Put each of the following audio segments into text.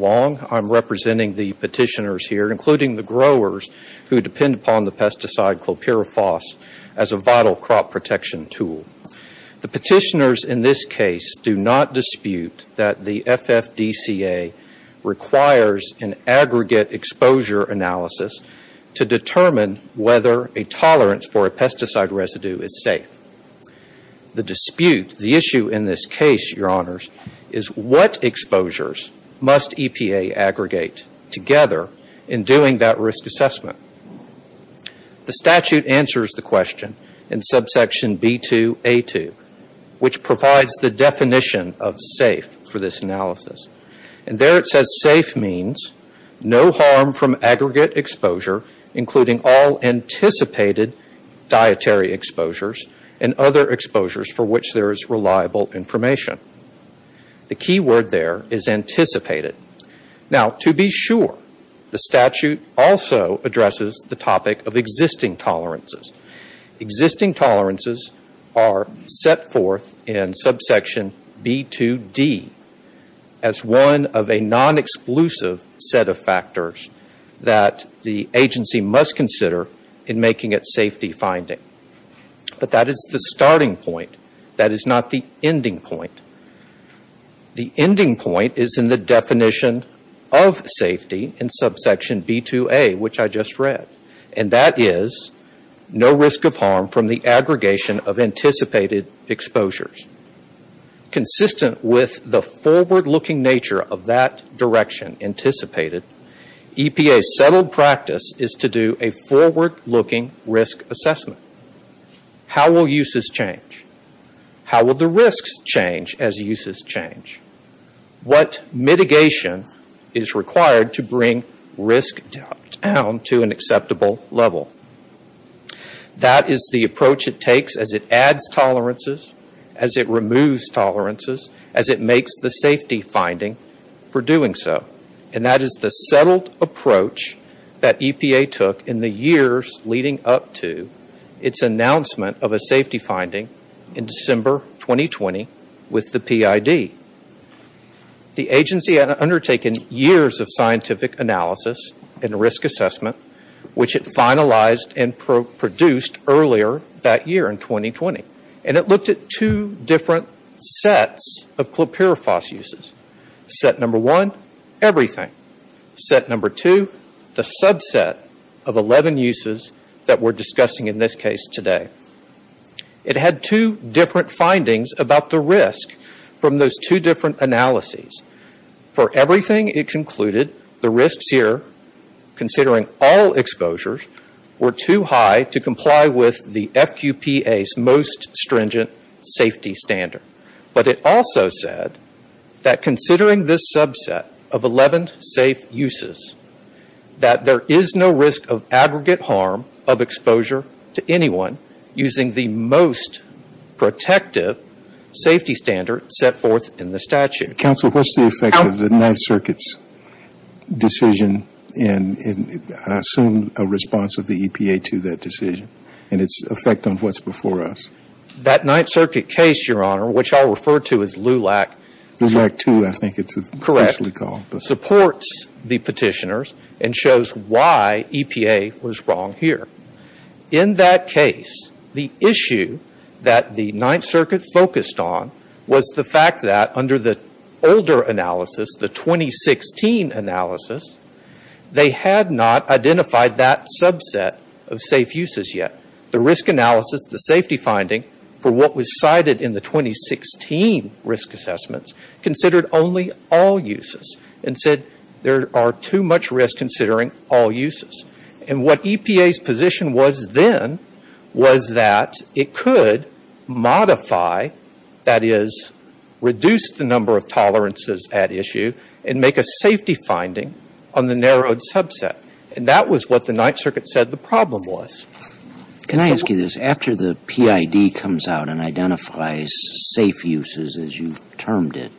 I am representing the petitioners here, including the growers who depend upon the pesticide clopyrifos as a vital crop protection tool. The petitioners in this case do not dispute that the FFDCA requires an aggregate exposure analysis to determine whether a tolerance for a pesticide residue is safe. The dispute, the issue in this case, Your Honors, is what exposures must EPA aggregate together in doing that risk assessment. The statute answers the question in subsection B2A2, which provides the definition of safe for this analysis. There it says safe means no harm from aggregate exposure, including all anticipated dietary exposures and other exposures for which there is reliable information. The key word there is anticipated. Now, to be sure, the statute also addresses the topic of existing tolerances. Existing tolerances are set forth in subsection B2D as one of a non-exclusive set of factors that the agency must consider in making it safety finding. But that is the starting point. That is not the ending point. The ending point is in the definition of safety in subsection B2A, which I just read. And that is no risk of harm from the aggregation of anticipated exposures. Consistent with the forward-looking nature of that direction, anticipated, EPA's settled practice is to do a forward-looking risk assessment. How will uses change? How will the risks change as uses change? What mitigation is required to bring risk down to an acceptable level? That is the approach it takes as it adds tolerances, as it removes tolerances, as it makes the safety finding for doing so. And that is the announcement of a safety finding in December 2020 with the PID. The agency had undertaken years of scientific analysis and risk assessment, which it finalized and produced earlier that year in 2020. And it looked at two different sets of clopirofos uses. Set number one, everything. Set number two, the subset of 11 uses that we are discussing in this case today. It had two different findings about the risk from those two different analyses. For everything it concluded, the risks here, considering all exposures, were too high to comply with the FQPA's most stringent safety standard. But it also said that considering this subset of 11 safe uses, that there is no risk of aggregate harm of exposure to anyone using the most protective safety standard set forth in the statute. Counsel, what's the effect of the Ninth Circuit's decision in, I assume, a response of the EPA to that decision and its effect on what's before us? That Ninth Circuit case, Your Honor, which I'll refer to as LULAC. LULAC 2, I think it's officially called. Correct. Supports the petitioners and shows why EPA was wrong here. In that case, the issue that the Ninth Circuit focused on was the fact that under the older analysis, the 2016 analysis, they had not identified that subset of safe uses yet. The risk analysis, the safety finding, for what was cited in the 2016 risk assessments, considered only all uses and said there are too much risk considering all uses. And what EPA's position was then was that it could modify, that is, reduce the number of tolerances at issue and make a safety finding on the narrowed subset. And that was what the Ninth Circuit said the problem was. Can I ask you this? After the PID comes out and identifies safe uses, as you termed it,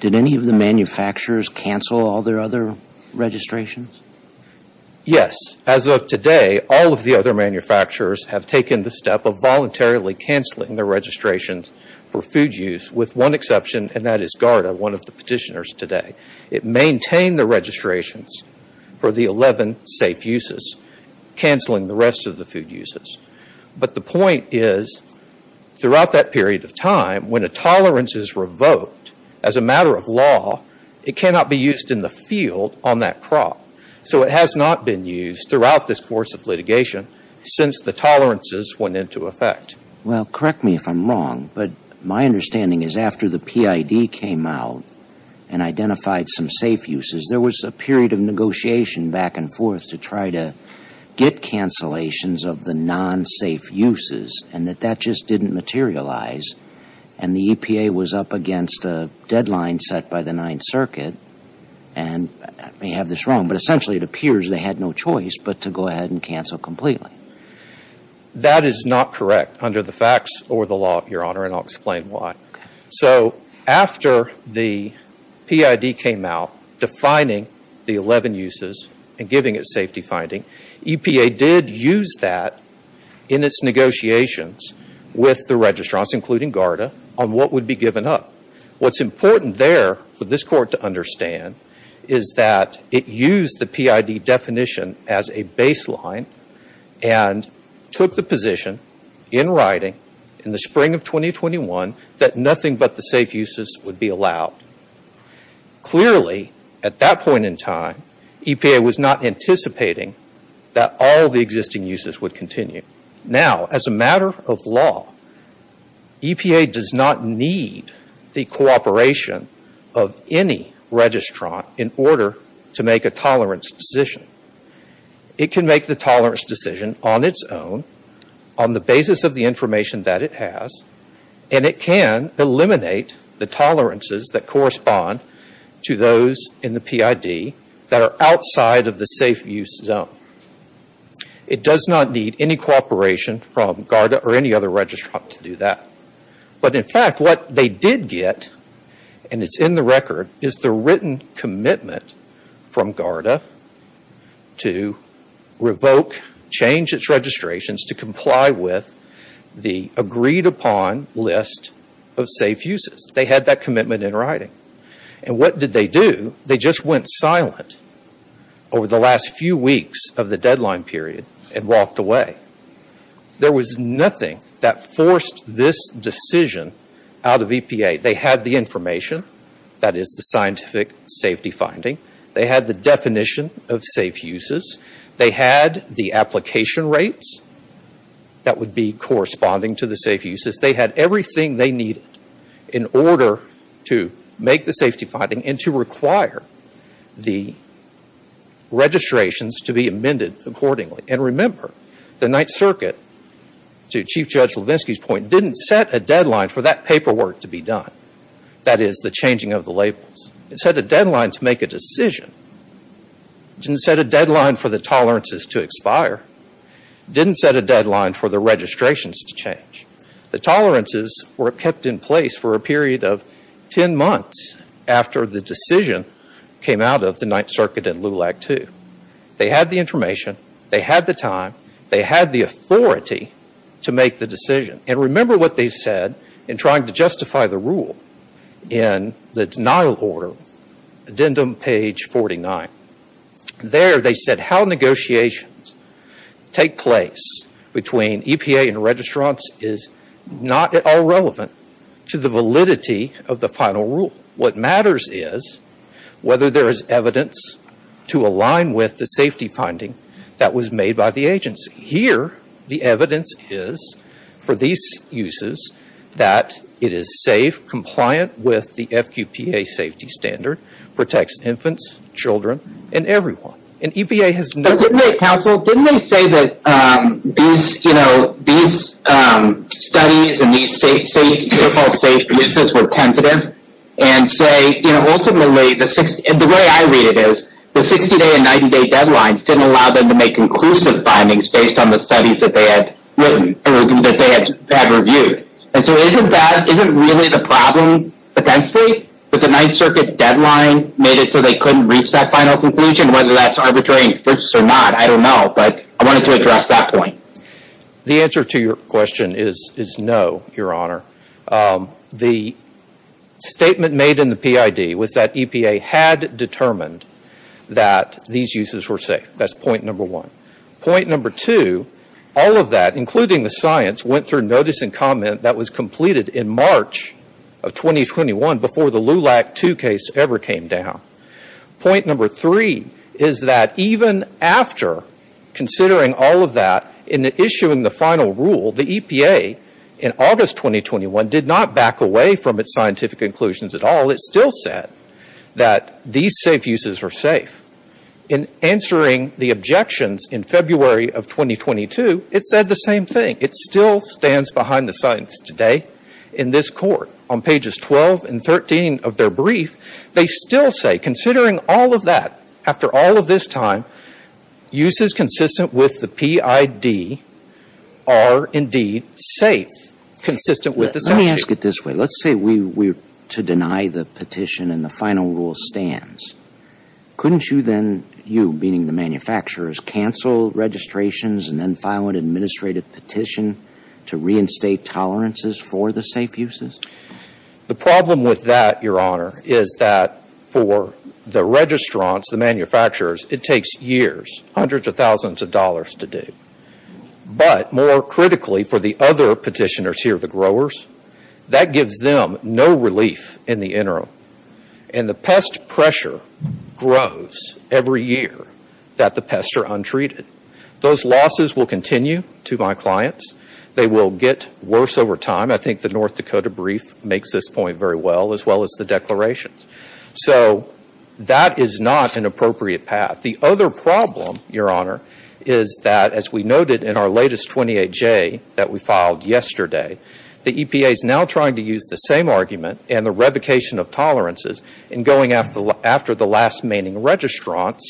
did any of the manufacturers cancel all their other registrations? Yes. As of today, all of the other manufacturers have taken the step of voluntarily canceling their registrations for food use, with one exception, and that is GARDA, one of the petitioners today. It maintained the registrations for the 11 safe uses, canceling the rest of the food uses. But the point is, throughout that period of time, when a tolerance is revoked as a matter of law, it cannot be used in the field on that crop. So it has not been used throughout this course of litigation since the tolerances went into effect. Well, correct me if I'm wrong, but my understanding is after the PID came out and identified some safe uses, there was a period of negotiation back and forth to try to get cancellations of the non-safe uses, and that that just didn't materialize. And the EPA was up against a deadline set by the Ninth Circuit, and I may have this wrong, but essentially it appears they had no choice but to go ahead and cancel completely. That is not correct under the facts or the law, Your Honor, and I'll explain why. So after the PID came out defining the 11 uses and giving it safety finding, EPA did use that in its negotiations with the registrants, including GARDA, on what would be given up. What's important there for this Court to understand is that it used the PID definition as a baseline and took the position in writing in the spring of 2021 that nothing but the safe uses would be allowed. Clearly, at that point in time, EPA was not anticipating that all the existing uses would continue. Now, as a matter of law, EPA does not need the cooperation of any registrant in order to make a tolerance decision. It can make the tolerance decision on its own, on the basis of the information that it has, and it can eliminate the tolerances that correspond to those in the PID that are outside of the safe use zone. It does not need any cooperation from GARDA or any other registrant to do that. But, in fact, what they did get, and it's in the record, is the written commitment from GARDA to revoke, change its registrations, to comply with the agreed upon list of safe uses. They had that commitment in writing. What did they do? They just went silent over the last few weeks of the deadline period and walked away. There was nothing that forced this decision out of EPA. They had the information, that is the scientific safety finding. They had the definition of safe uses. They had the application rates that would be corresponding to the safe uses. They had everything they needed in order to make the safety finding and to require the registrations to be amended accordingly. And remember, the Ninth Circuit, to Chief Judge Levinsky's point, didn't set a deadline for that paperwork to be done, that is the changing of the labels. It set a deadline to make a decision. It didn't set a deadline for the tolerances to expire. It didn't set a deadline for the registrations to change. The tolerances were kept in place for a period of 10 months after the decision came out of the Ninth Circuit and LULAC II. They had the information. They had the time. They had the authority to make the decision. And remember what they said in trying to justify the rule in the denial order, addendum page 49. There they said how negotiations take place between EPA and registrants is not at all relevant to the validity of the final rule. What matters is whether there is evidence to align with the safety finding that was made by the agency. Here the evidence is for these uses that it is safe, compliant with the FQPA safety standard, protects infants, children, and everyone. And EPA has no... But didn't they, counsel, didn't they say that these studies and these so-called safe uses were tentative? And say, you know, ultimately, the way I read it is the 60-day and 90-day deadlines didn't allow them to make conclusive findings based on the studies that they had written or that they had reviewed. And so isn't that, isn't really the problem potentially that the Ninth Circuit deadline made it so they couldn't reach that final conclusion? Whether that's arbitrary or not, I don't know, but I wanted to address that point. The answer to your question is no, Your Honor. The statement made in the PID was that EPA had determined that these uses were safe. That's point number one. Point number two, all of that, including the science, went through notice and comment that was completed in March of 2021 before the LULAC 2 case ever came down. Point number three is that even after considering all of that in the issue in the final rule, the EPA in August 2021 did not back away from its scientific conclusions at all. It still said that these safe uses are safe. In answering the objections in February of 2022, it said the same thing. It still stands behind the science today in this court. On pages 12 and 13 of their brief, they still say, considering all of that, after all of this time, uses consistent with the PID are indeed safe, consistent with the statute. Let me ask it this way. Let's say we were to deny the petition and the final rule stands. Couldn't you then, you, meaning the manufacturers, cancel registrations and then file an administrative petition to reinstate tolerances for the safe uses? The problem with that, Your Honor, is that for the registrants, the manufacturers, it takes years, hundreds of thousands of dollars to do. But more critically, for the other petitioners here, the growers, that gives them no relief in the interim. And the pest pressure grows every year that the pests are untreated. Those losses will continue to my clients. They will get worse over time. I think the North Dakota brief makes this point very well, as well as the declarations. So that is not an appropriate path. The other problem, Your Honor, is that, as we noted in our latest 28-J that we filed yesterday, the EPA is now trying to use the same argument and the revocation of tolerances in going after the last remaining registrants,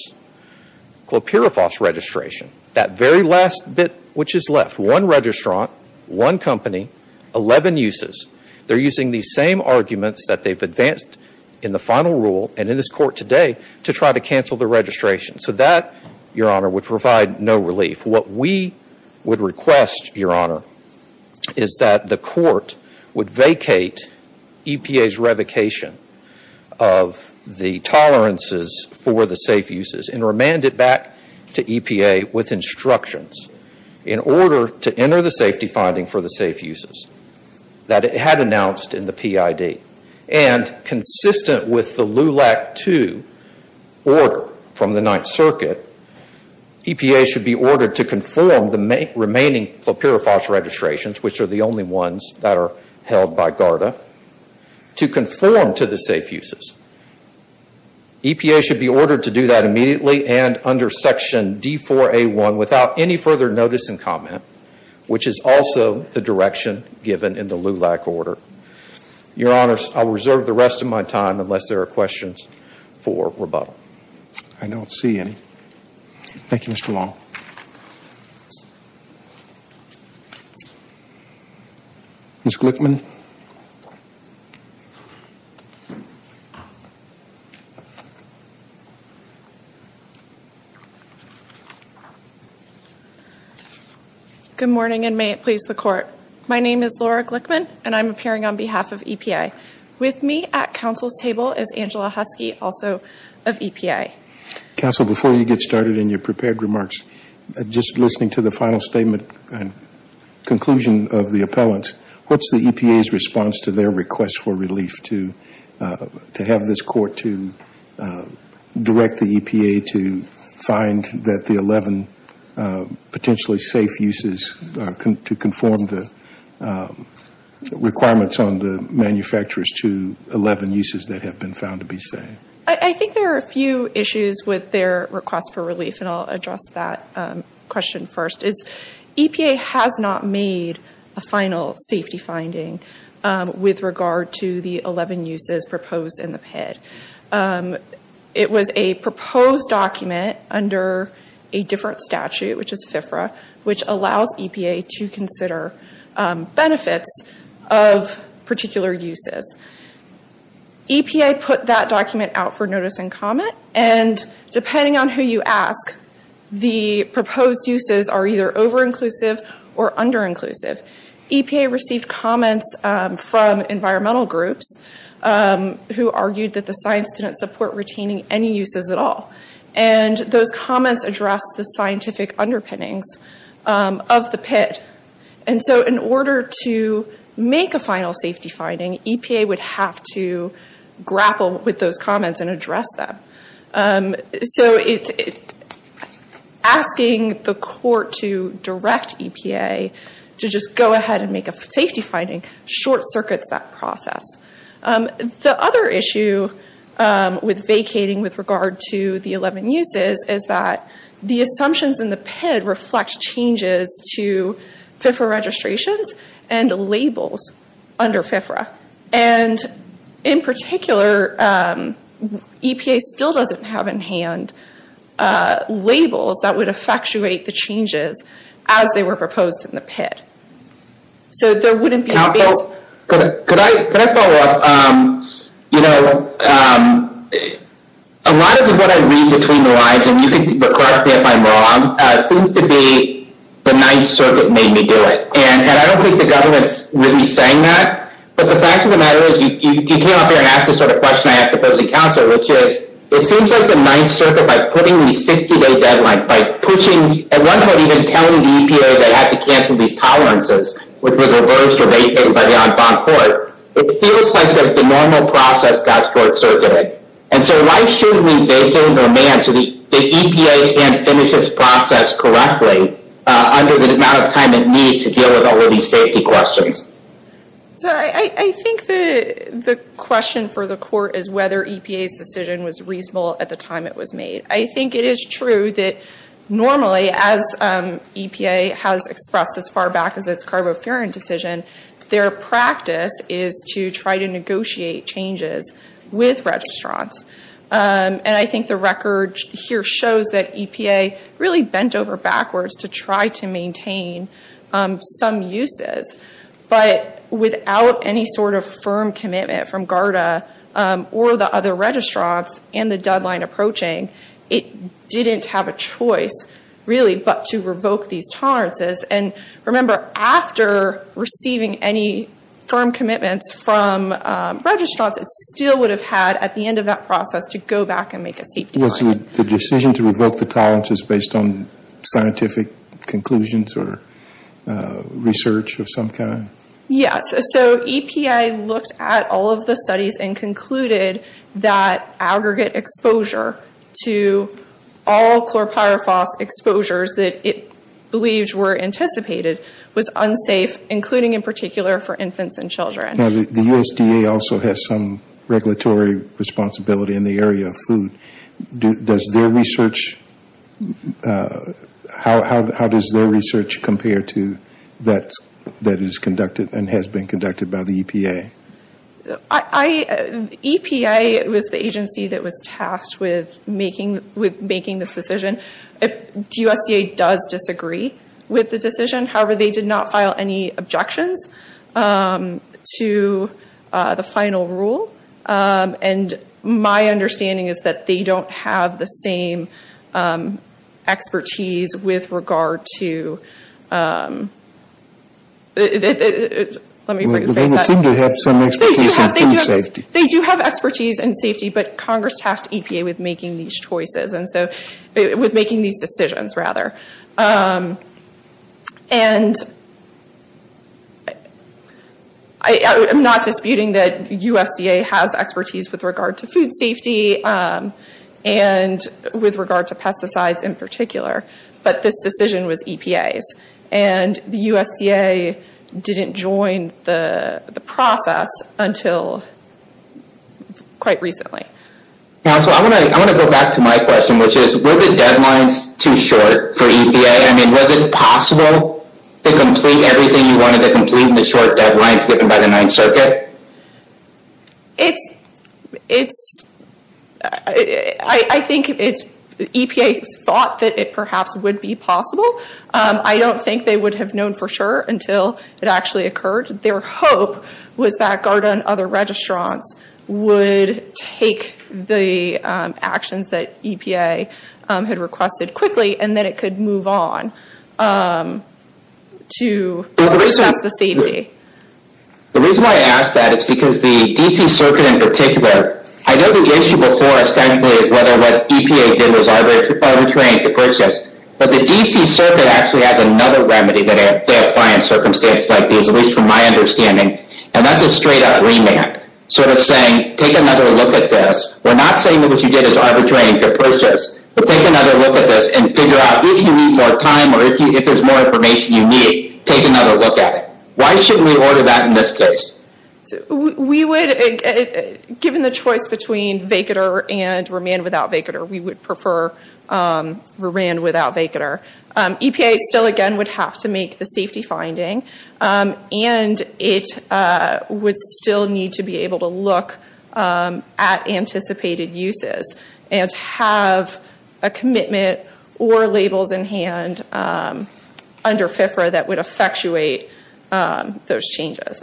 Clopyrifos registration. That very last bit which is left. One registrant, one company, 11 uses. They're using these same arguments that they've advanced in the final rule and in this court today to try to cancel the registration. So that, Your Honor, would provide no relief. What we would request, Your Honor, is that the court would vacate EPA's revocation of the tolerances for the safe uses and remand it back to EPA with instructions in order to enter the safety finding for the safe uses that it had announced in the PID. And consistent with the LULAC II order from the Ninth Circuit, EPA should be ordered to conform the remaining Clopyrifos registrations, which are the only ones that are held by GARDA, to conform to the safe uses. EPA should be ordered to do that immediately and under Section D4A1 without any further notice and comment, which is also the direction given in the LULAC order. Your Honor, I'll reserve the rest of my time unless there are questions for rebuttal. I don't see any. Thank you, Mr. Long. Ms. Glickman. Good morning, and may it please the Court. My name is Laura Glickman, and I'm appearing on behalf of EPA. With me at counsel's table is Angela Husky, also of EPA. Counsel, before you get started in your prepared remarks, just listening to the final statement and conclusion of the appellant, what's the EPA's response to their request for relief to have this Court to direct the EPA to find that the 11 potentially safe uses to conform the requirements on the manufacturers to 11 uses that have been found to be safe? I think there are a few issues with their request for relief, and I'll address that question first. EPA has not made a final safety finding with regard to the 11 uses proposed in the PID. It was a proposed document under a different statute, which is FIFRA, which allows EPA to put that document out for notice and comment. Depending on who you ask, the proposed uses are either over-inclusive or under-inclusive. EPA received comments from environmental groups who argued that the science didn't support retaining any uses at all. Those comments addressed the scientific underpinnings of the PID. In order to make a final safety finding, EPA would have to grapple with those comments and address them. Asking the Court to direct EPA to just go ahead and make a safety finding short-circuits that process. The other issue with vacating with regard to the 11 uses is that the assumptions in the PID reflect changes to FIFRA registrations and labels under FIFRA. In particular, EPA still doesn't have in hand labels that would effectuate the changes as they were proposed in the PID. So there wouldn't be... Could I follow up? A lot of what I read between the lines, and you can correct me if I'm wrong, seems to be the 9th Circuit made me do it. And I don't think the government's really saying that. But the fact of the matter is, you came up here and asked the sort of question I asked the opposing counsel, which is, it seems like the 9th Circuit, by putting these 60-day deadlines, by pushing, at one point even telling the EPA that it had to cancel these tolerances, which was reversed or vacated by the Enfront Court, it feels like the normal process got short-circuited. And so why shouldn't we vacate and remand so the EPA can finish its process correctly under the amount of time it needs to deal with all of these safety questions? I think the question for the Court is whether EPA's decision was reasonable at the time it was made. I think it is true that normally, as EPA has expressed as far back as its carbofuran decision, their practice is to try to negotiate changes with registrants. And I think the record here shows that EPA really bent over backwards to try to maintain some uses. But without any sort of review and the deadline approaching, it didn't have a choice, really, but to revoke these tolerances. And remember, after receiving any firm commitments from registrants, it still would have had, at the end of that process, to go back and make a safety decision. Was the decision to revoke the tolerances based on scientific conclusions or research of some kind? Yes. So EPA looked at all of the studies and concluded that aggregate exposure to all chlorpyrifos exposures that it believed were anticipated was unsafe, including in particular for infants and children. Now, the USDA also has some regulatory responsibility in the area of food. How does their research compare to that that is conducted and has been conducted by the EPA? EPA was the agency that was tasked with making this decision. USDA does disagree with the decision. However, they did not file any objections to the final rule. My understanding is that they don't have the same expertise with regard to... They do have expertise in food safety. They do have expertise in safety, but Congress tasked EPA with making these decisions. I'm not disputing that USDA has expertise with regard to food safety and with regard to pesticides in particular, but this decision was EPA's. The USDA didn't join the process until quite recently. Council, I want to go back to my question, which is, were the deadlines too short for EPA? I mean, was it possible to complete everything you wanted to complete in the short deadlines given by the Ninth Circuit? I think EPA thought that it perhaps would be possible. I don't think they would have known for sure until it actually occurred. Their hope was that GARDA and other registrants would take the actions that EPA had requested quickly and then it could move on to assess the safety. The reason why I ask that is because the DC Circuit in particular... I know the issue before essentially is whether what EPA did was arbitrary in the process, but the DC Circuit actually has another remedy that they apply in circumstances like these, at least from my understanding, and that's a straight up remand. Sort of saying, take another look at this. We're not saying that what you did is arbitrary and capricious, but take another look at this and figure out if you need more time or if there's more information you need, take another look at it. Why shouldn't we order that in this case? We would, given the choice between vacater and remand without vacater, we would prefer remand without vacater. EPA still again would have to make the safety finding and it would still need to be able to look at anticipated uses and have a commitment or labels in hand under FFRA that would effectuate those changes.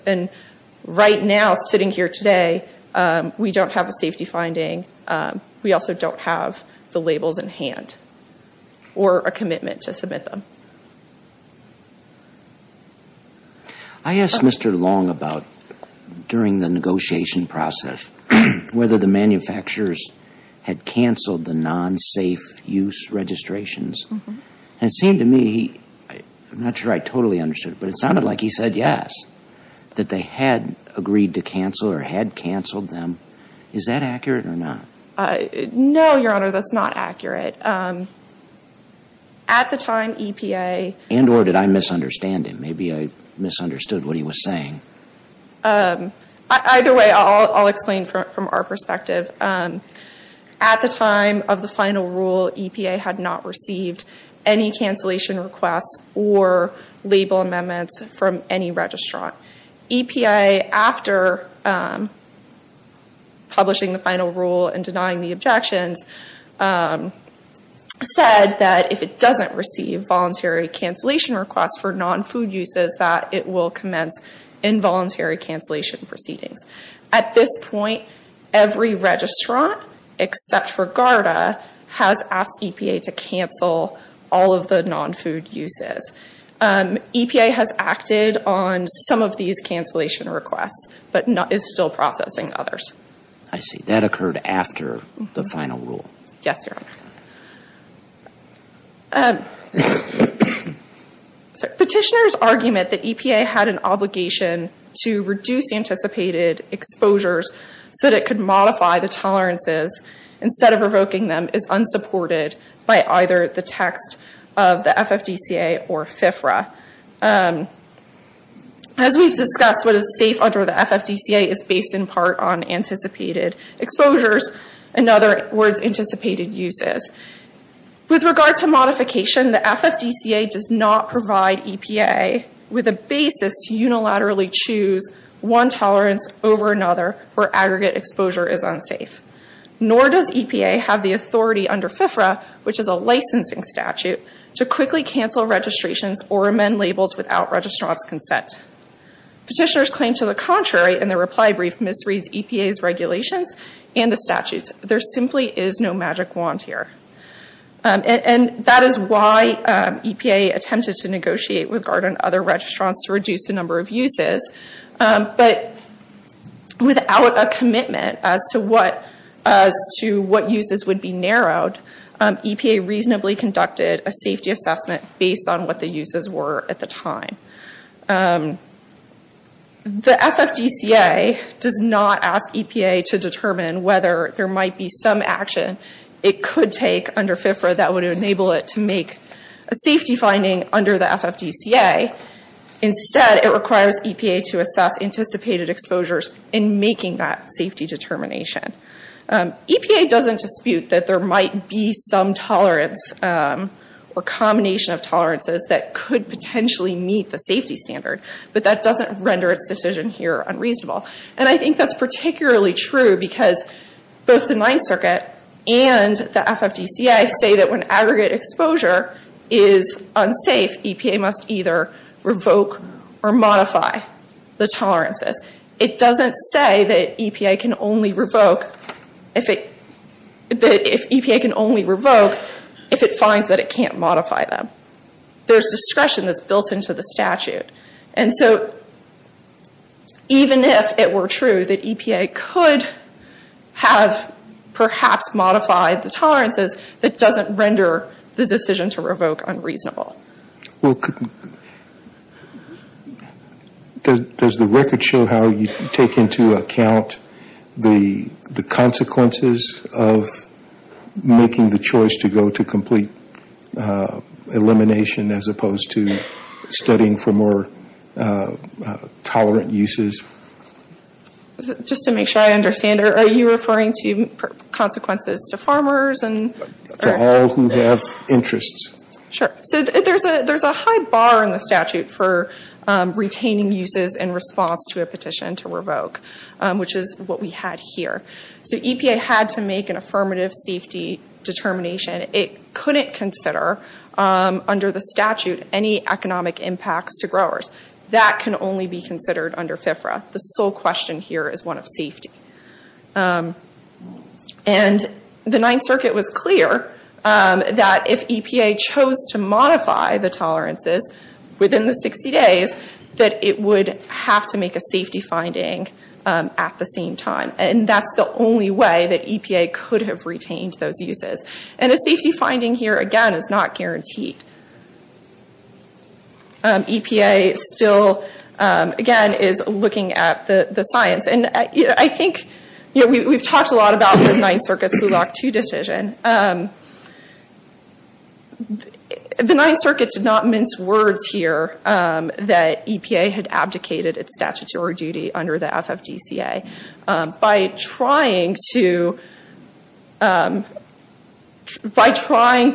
Right now, sitting here today, we don't have a safety finding. We also don't have the labels in hand or a commitment to submit them. I asked Mr. Long about, during the negotiation process, whether the manufacturers had canceled the non-safe use registrations. It seemed to me, I'm not sure I totally understood it, but it sounded like he said yes, that they had agreed to cancel or had canceled them. Is that accurate or not? No, Your Honor, that's not accurate. At the time, EPA... And or did I misunderstand him? Maybe I misunderstood what he was saying. Either way, I'll explain from our perspective. At the time of the final rule, EPA had not received any cancellation requests or label amendments from any registrant. EPA, after publishing the final rule and denying the objections, said that if it doesn't receive voluntary cancellation requests for non-food uses, that it will commence involuntary cancellation proceedings. At this point, every registrant, except for GARDA, has asked EPA to cancel all of the non-food uses. EPA has acted on some of these cancellation requests, but is still processing others. I see. That occurred after the final rule. Yes, Your Honor. Petitioner's argument that EPA had an obligation to reduce anticipated exposures so that it could modify the tolerances instead of revoking them is unsupported by either the text of the FFDCA or FFRA. As we've discussed, what is safe under the FFDCA is based in part on anticipated exposures and other words anticipated uses. With regard to modification, the FFDCA does not provide EPA with a basis to unilaterally choose one tolerance over another where aggregate exposure is unsafe. Nor does EPA have the authority under FFRA, which is a licensing statute, to quickly cancel registrations or amend labels without registrant's consent. Petitioner's claim to the contrary in their reply brief misreads EPA's regulations and the statutes. There simply is no magic wand here. And that is why EPA attempted to negotiate with GARDA and other registrants to reduce the number of uses. But without a commitment as to what uses would be narrowed, EPA reasonably conducted a safety assessment based on what the uses were at the time. The FFDCA does not ask EPA to determine whether there might be some action it could take under FFRA that would enable it to make a safety finding under the FFDCA. Instead, it requires EPA to assess anticipated exposures in making that tolerance or combination of tolerances that could potentially meet the safety standard. But that doesn't render its decision here unreasonable. And I think that's particularly true because both the Ninth Circuit and the FFDCA say that when aggregate exposure is unsafe, EPA must either revoke or modify the tolerances. It doesn't say that if EPA can only revoke if it finds that it can't modify them. There's discretion that's built into the statute. And so even if it were true that EPA could have perhaps modified the tolerances, it doesn't render the decision to revoke unreasonable. Well, does the record show how you take into account the consequences of making the choice to go to complete elimination as opposed to studying for more tolerant uses? Just to make sure I understand, are you referring to consequences to farmers? To all who have interests. Sure. So there's a high bar in the statute for retaining uses in response to a petition to revoke, which is what we had here. So EPA had to make an affirmative safety determination. It couldn't consider under the statute any economic impacts to growers. That can only be considered under FFDCA. The sole question here is one of safety. And the Ninth Circuit was clear that if EPA chose to modify the tolerances within the 60 days, that it would have to make a safety finding at the same time. And that's the only way that EPA could have retained those uses. And a safety finding here, again, is not guaranteed. EPA still, again, is looking at the science. And I think, you know, we've talked a lot about the Ninth Circuit's Law 2 decision. The Ninth Circuit did not mince words here that EPA had abdicated its statutory duty under the FFDCA by trying to find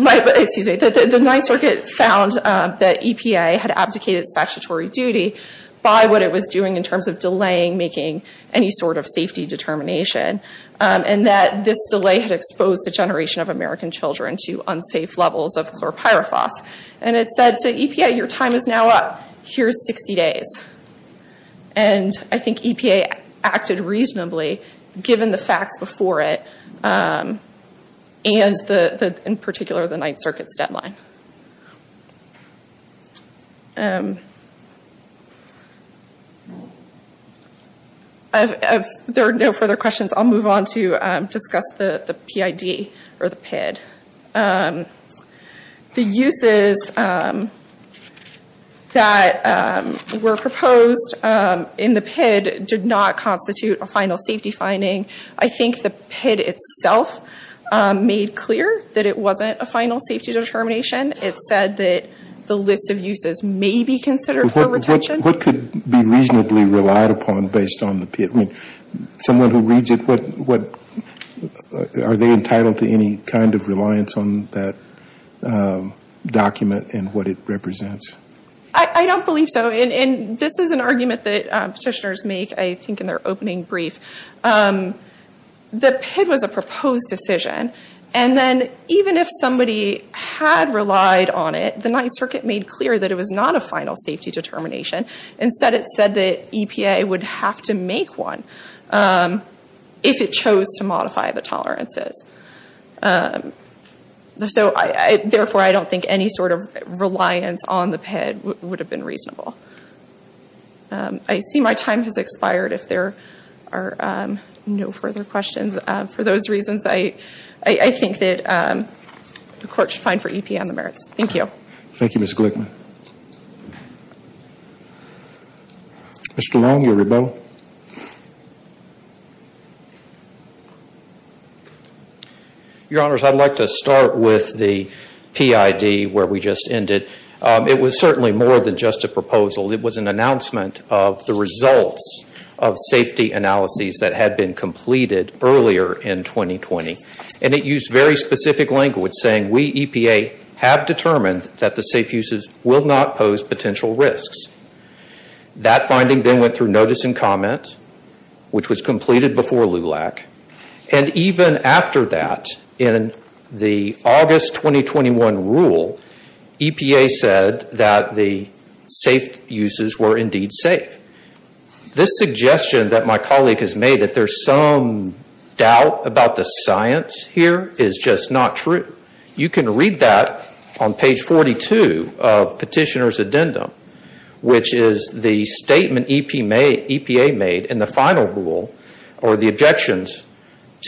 excuse me, the Ninth Circuit found that EPA had abdicated statutory duty by what it was doing in terms of delaying making any sort of safety determination. And that this delay had exposed a generation of American children to unsafe levels of chlorpyrifos. And it said to EPA, your time is now up. Here's 60 days. And I think EPA acted reasonably, given the facts before it. And in particular, the Ninth Circuit's deadline. If there are no further questions, I'll move on to discuss the PID or the PID. The uses that were proposed in the PID did not constitute a final safety finding. I think the PID itself made clear that it wasn't a final safety determination. It said that the list of uses may be considered for retention. What could be reasonably relied upon based on the PID? Are they entitled to any kind of reliance on that document and what it represents? I don't believe so. And this is an argument that petitioners make, I think, in their opening brief. The PID was a proposed decision. And then even if somebody had relied on it, the Ninth Circuit made clear that it was not a final safety determination. Instead, it said that EPA would have to make one if it chose to modify the tolerances. Therefore, I don't think any sort of reliance on the PID would have been reasonable. I see my time has expired. If there are no further questions, for those reasons, I think that the Court should find for EPA on the merits. Thank you. Mr. Long, your rebuttal. Your Honors, I'd like to start with the PID, where we just ended. It was certainly more than just a proposal. It was an announcement of the results of safety analyses that had been completed earlier in 2020. And it used very specific language, saying, we, EPA, have determined that the safe uses will not pose potential risks. That finding then went through notice and comment, which was completed before LULAC. And even after that, in the August 2021 rule, EPA said that the safe uses were indeed safe. This suggestion that my colleague has made, that there's some doubt about the science here, is just not true. You can read that on page 42 of Petitioner's Addendum, which is the statement EPA made in the final rule, or the objections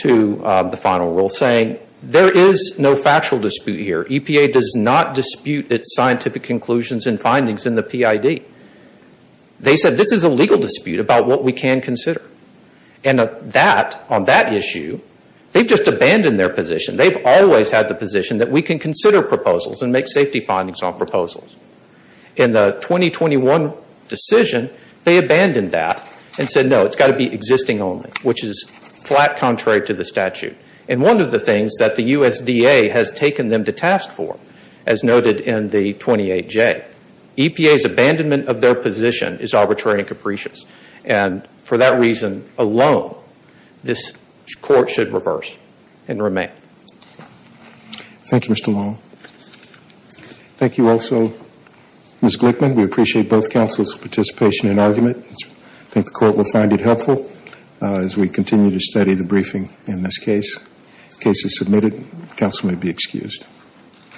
to the final rule, saying, there is no factual dispute here. EPA does not dispute its scientific conclusions and findings in the PID. They said, this is a legal dispute about what we can consider. And on that issue, they've just abandoned their position. They've always had the position that we can consider proposals and make safety findings on proposals. In the 2021 decision, they abandoned their position. EPA's abandonment of their position is arbitrary and capricious. And for that reason alone, this Court should reverse and remain. Thank you, Mr. Long. Thank you also, Ms. Glickman. We appreciate both cases submitted. Counsel may be excused.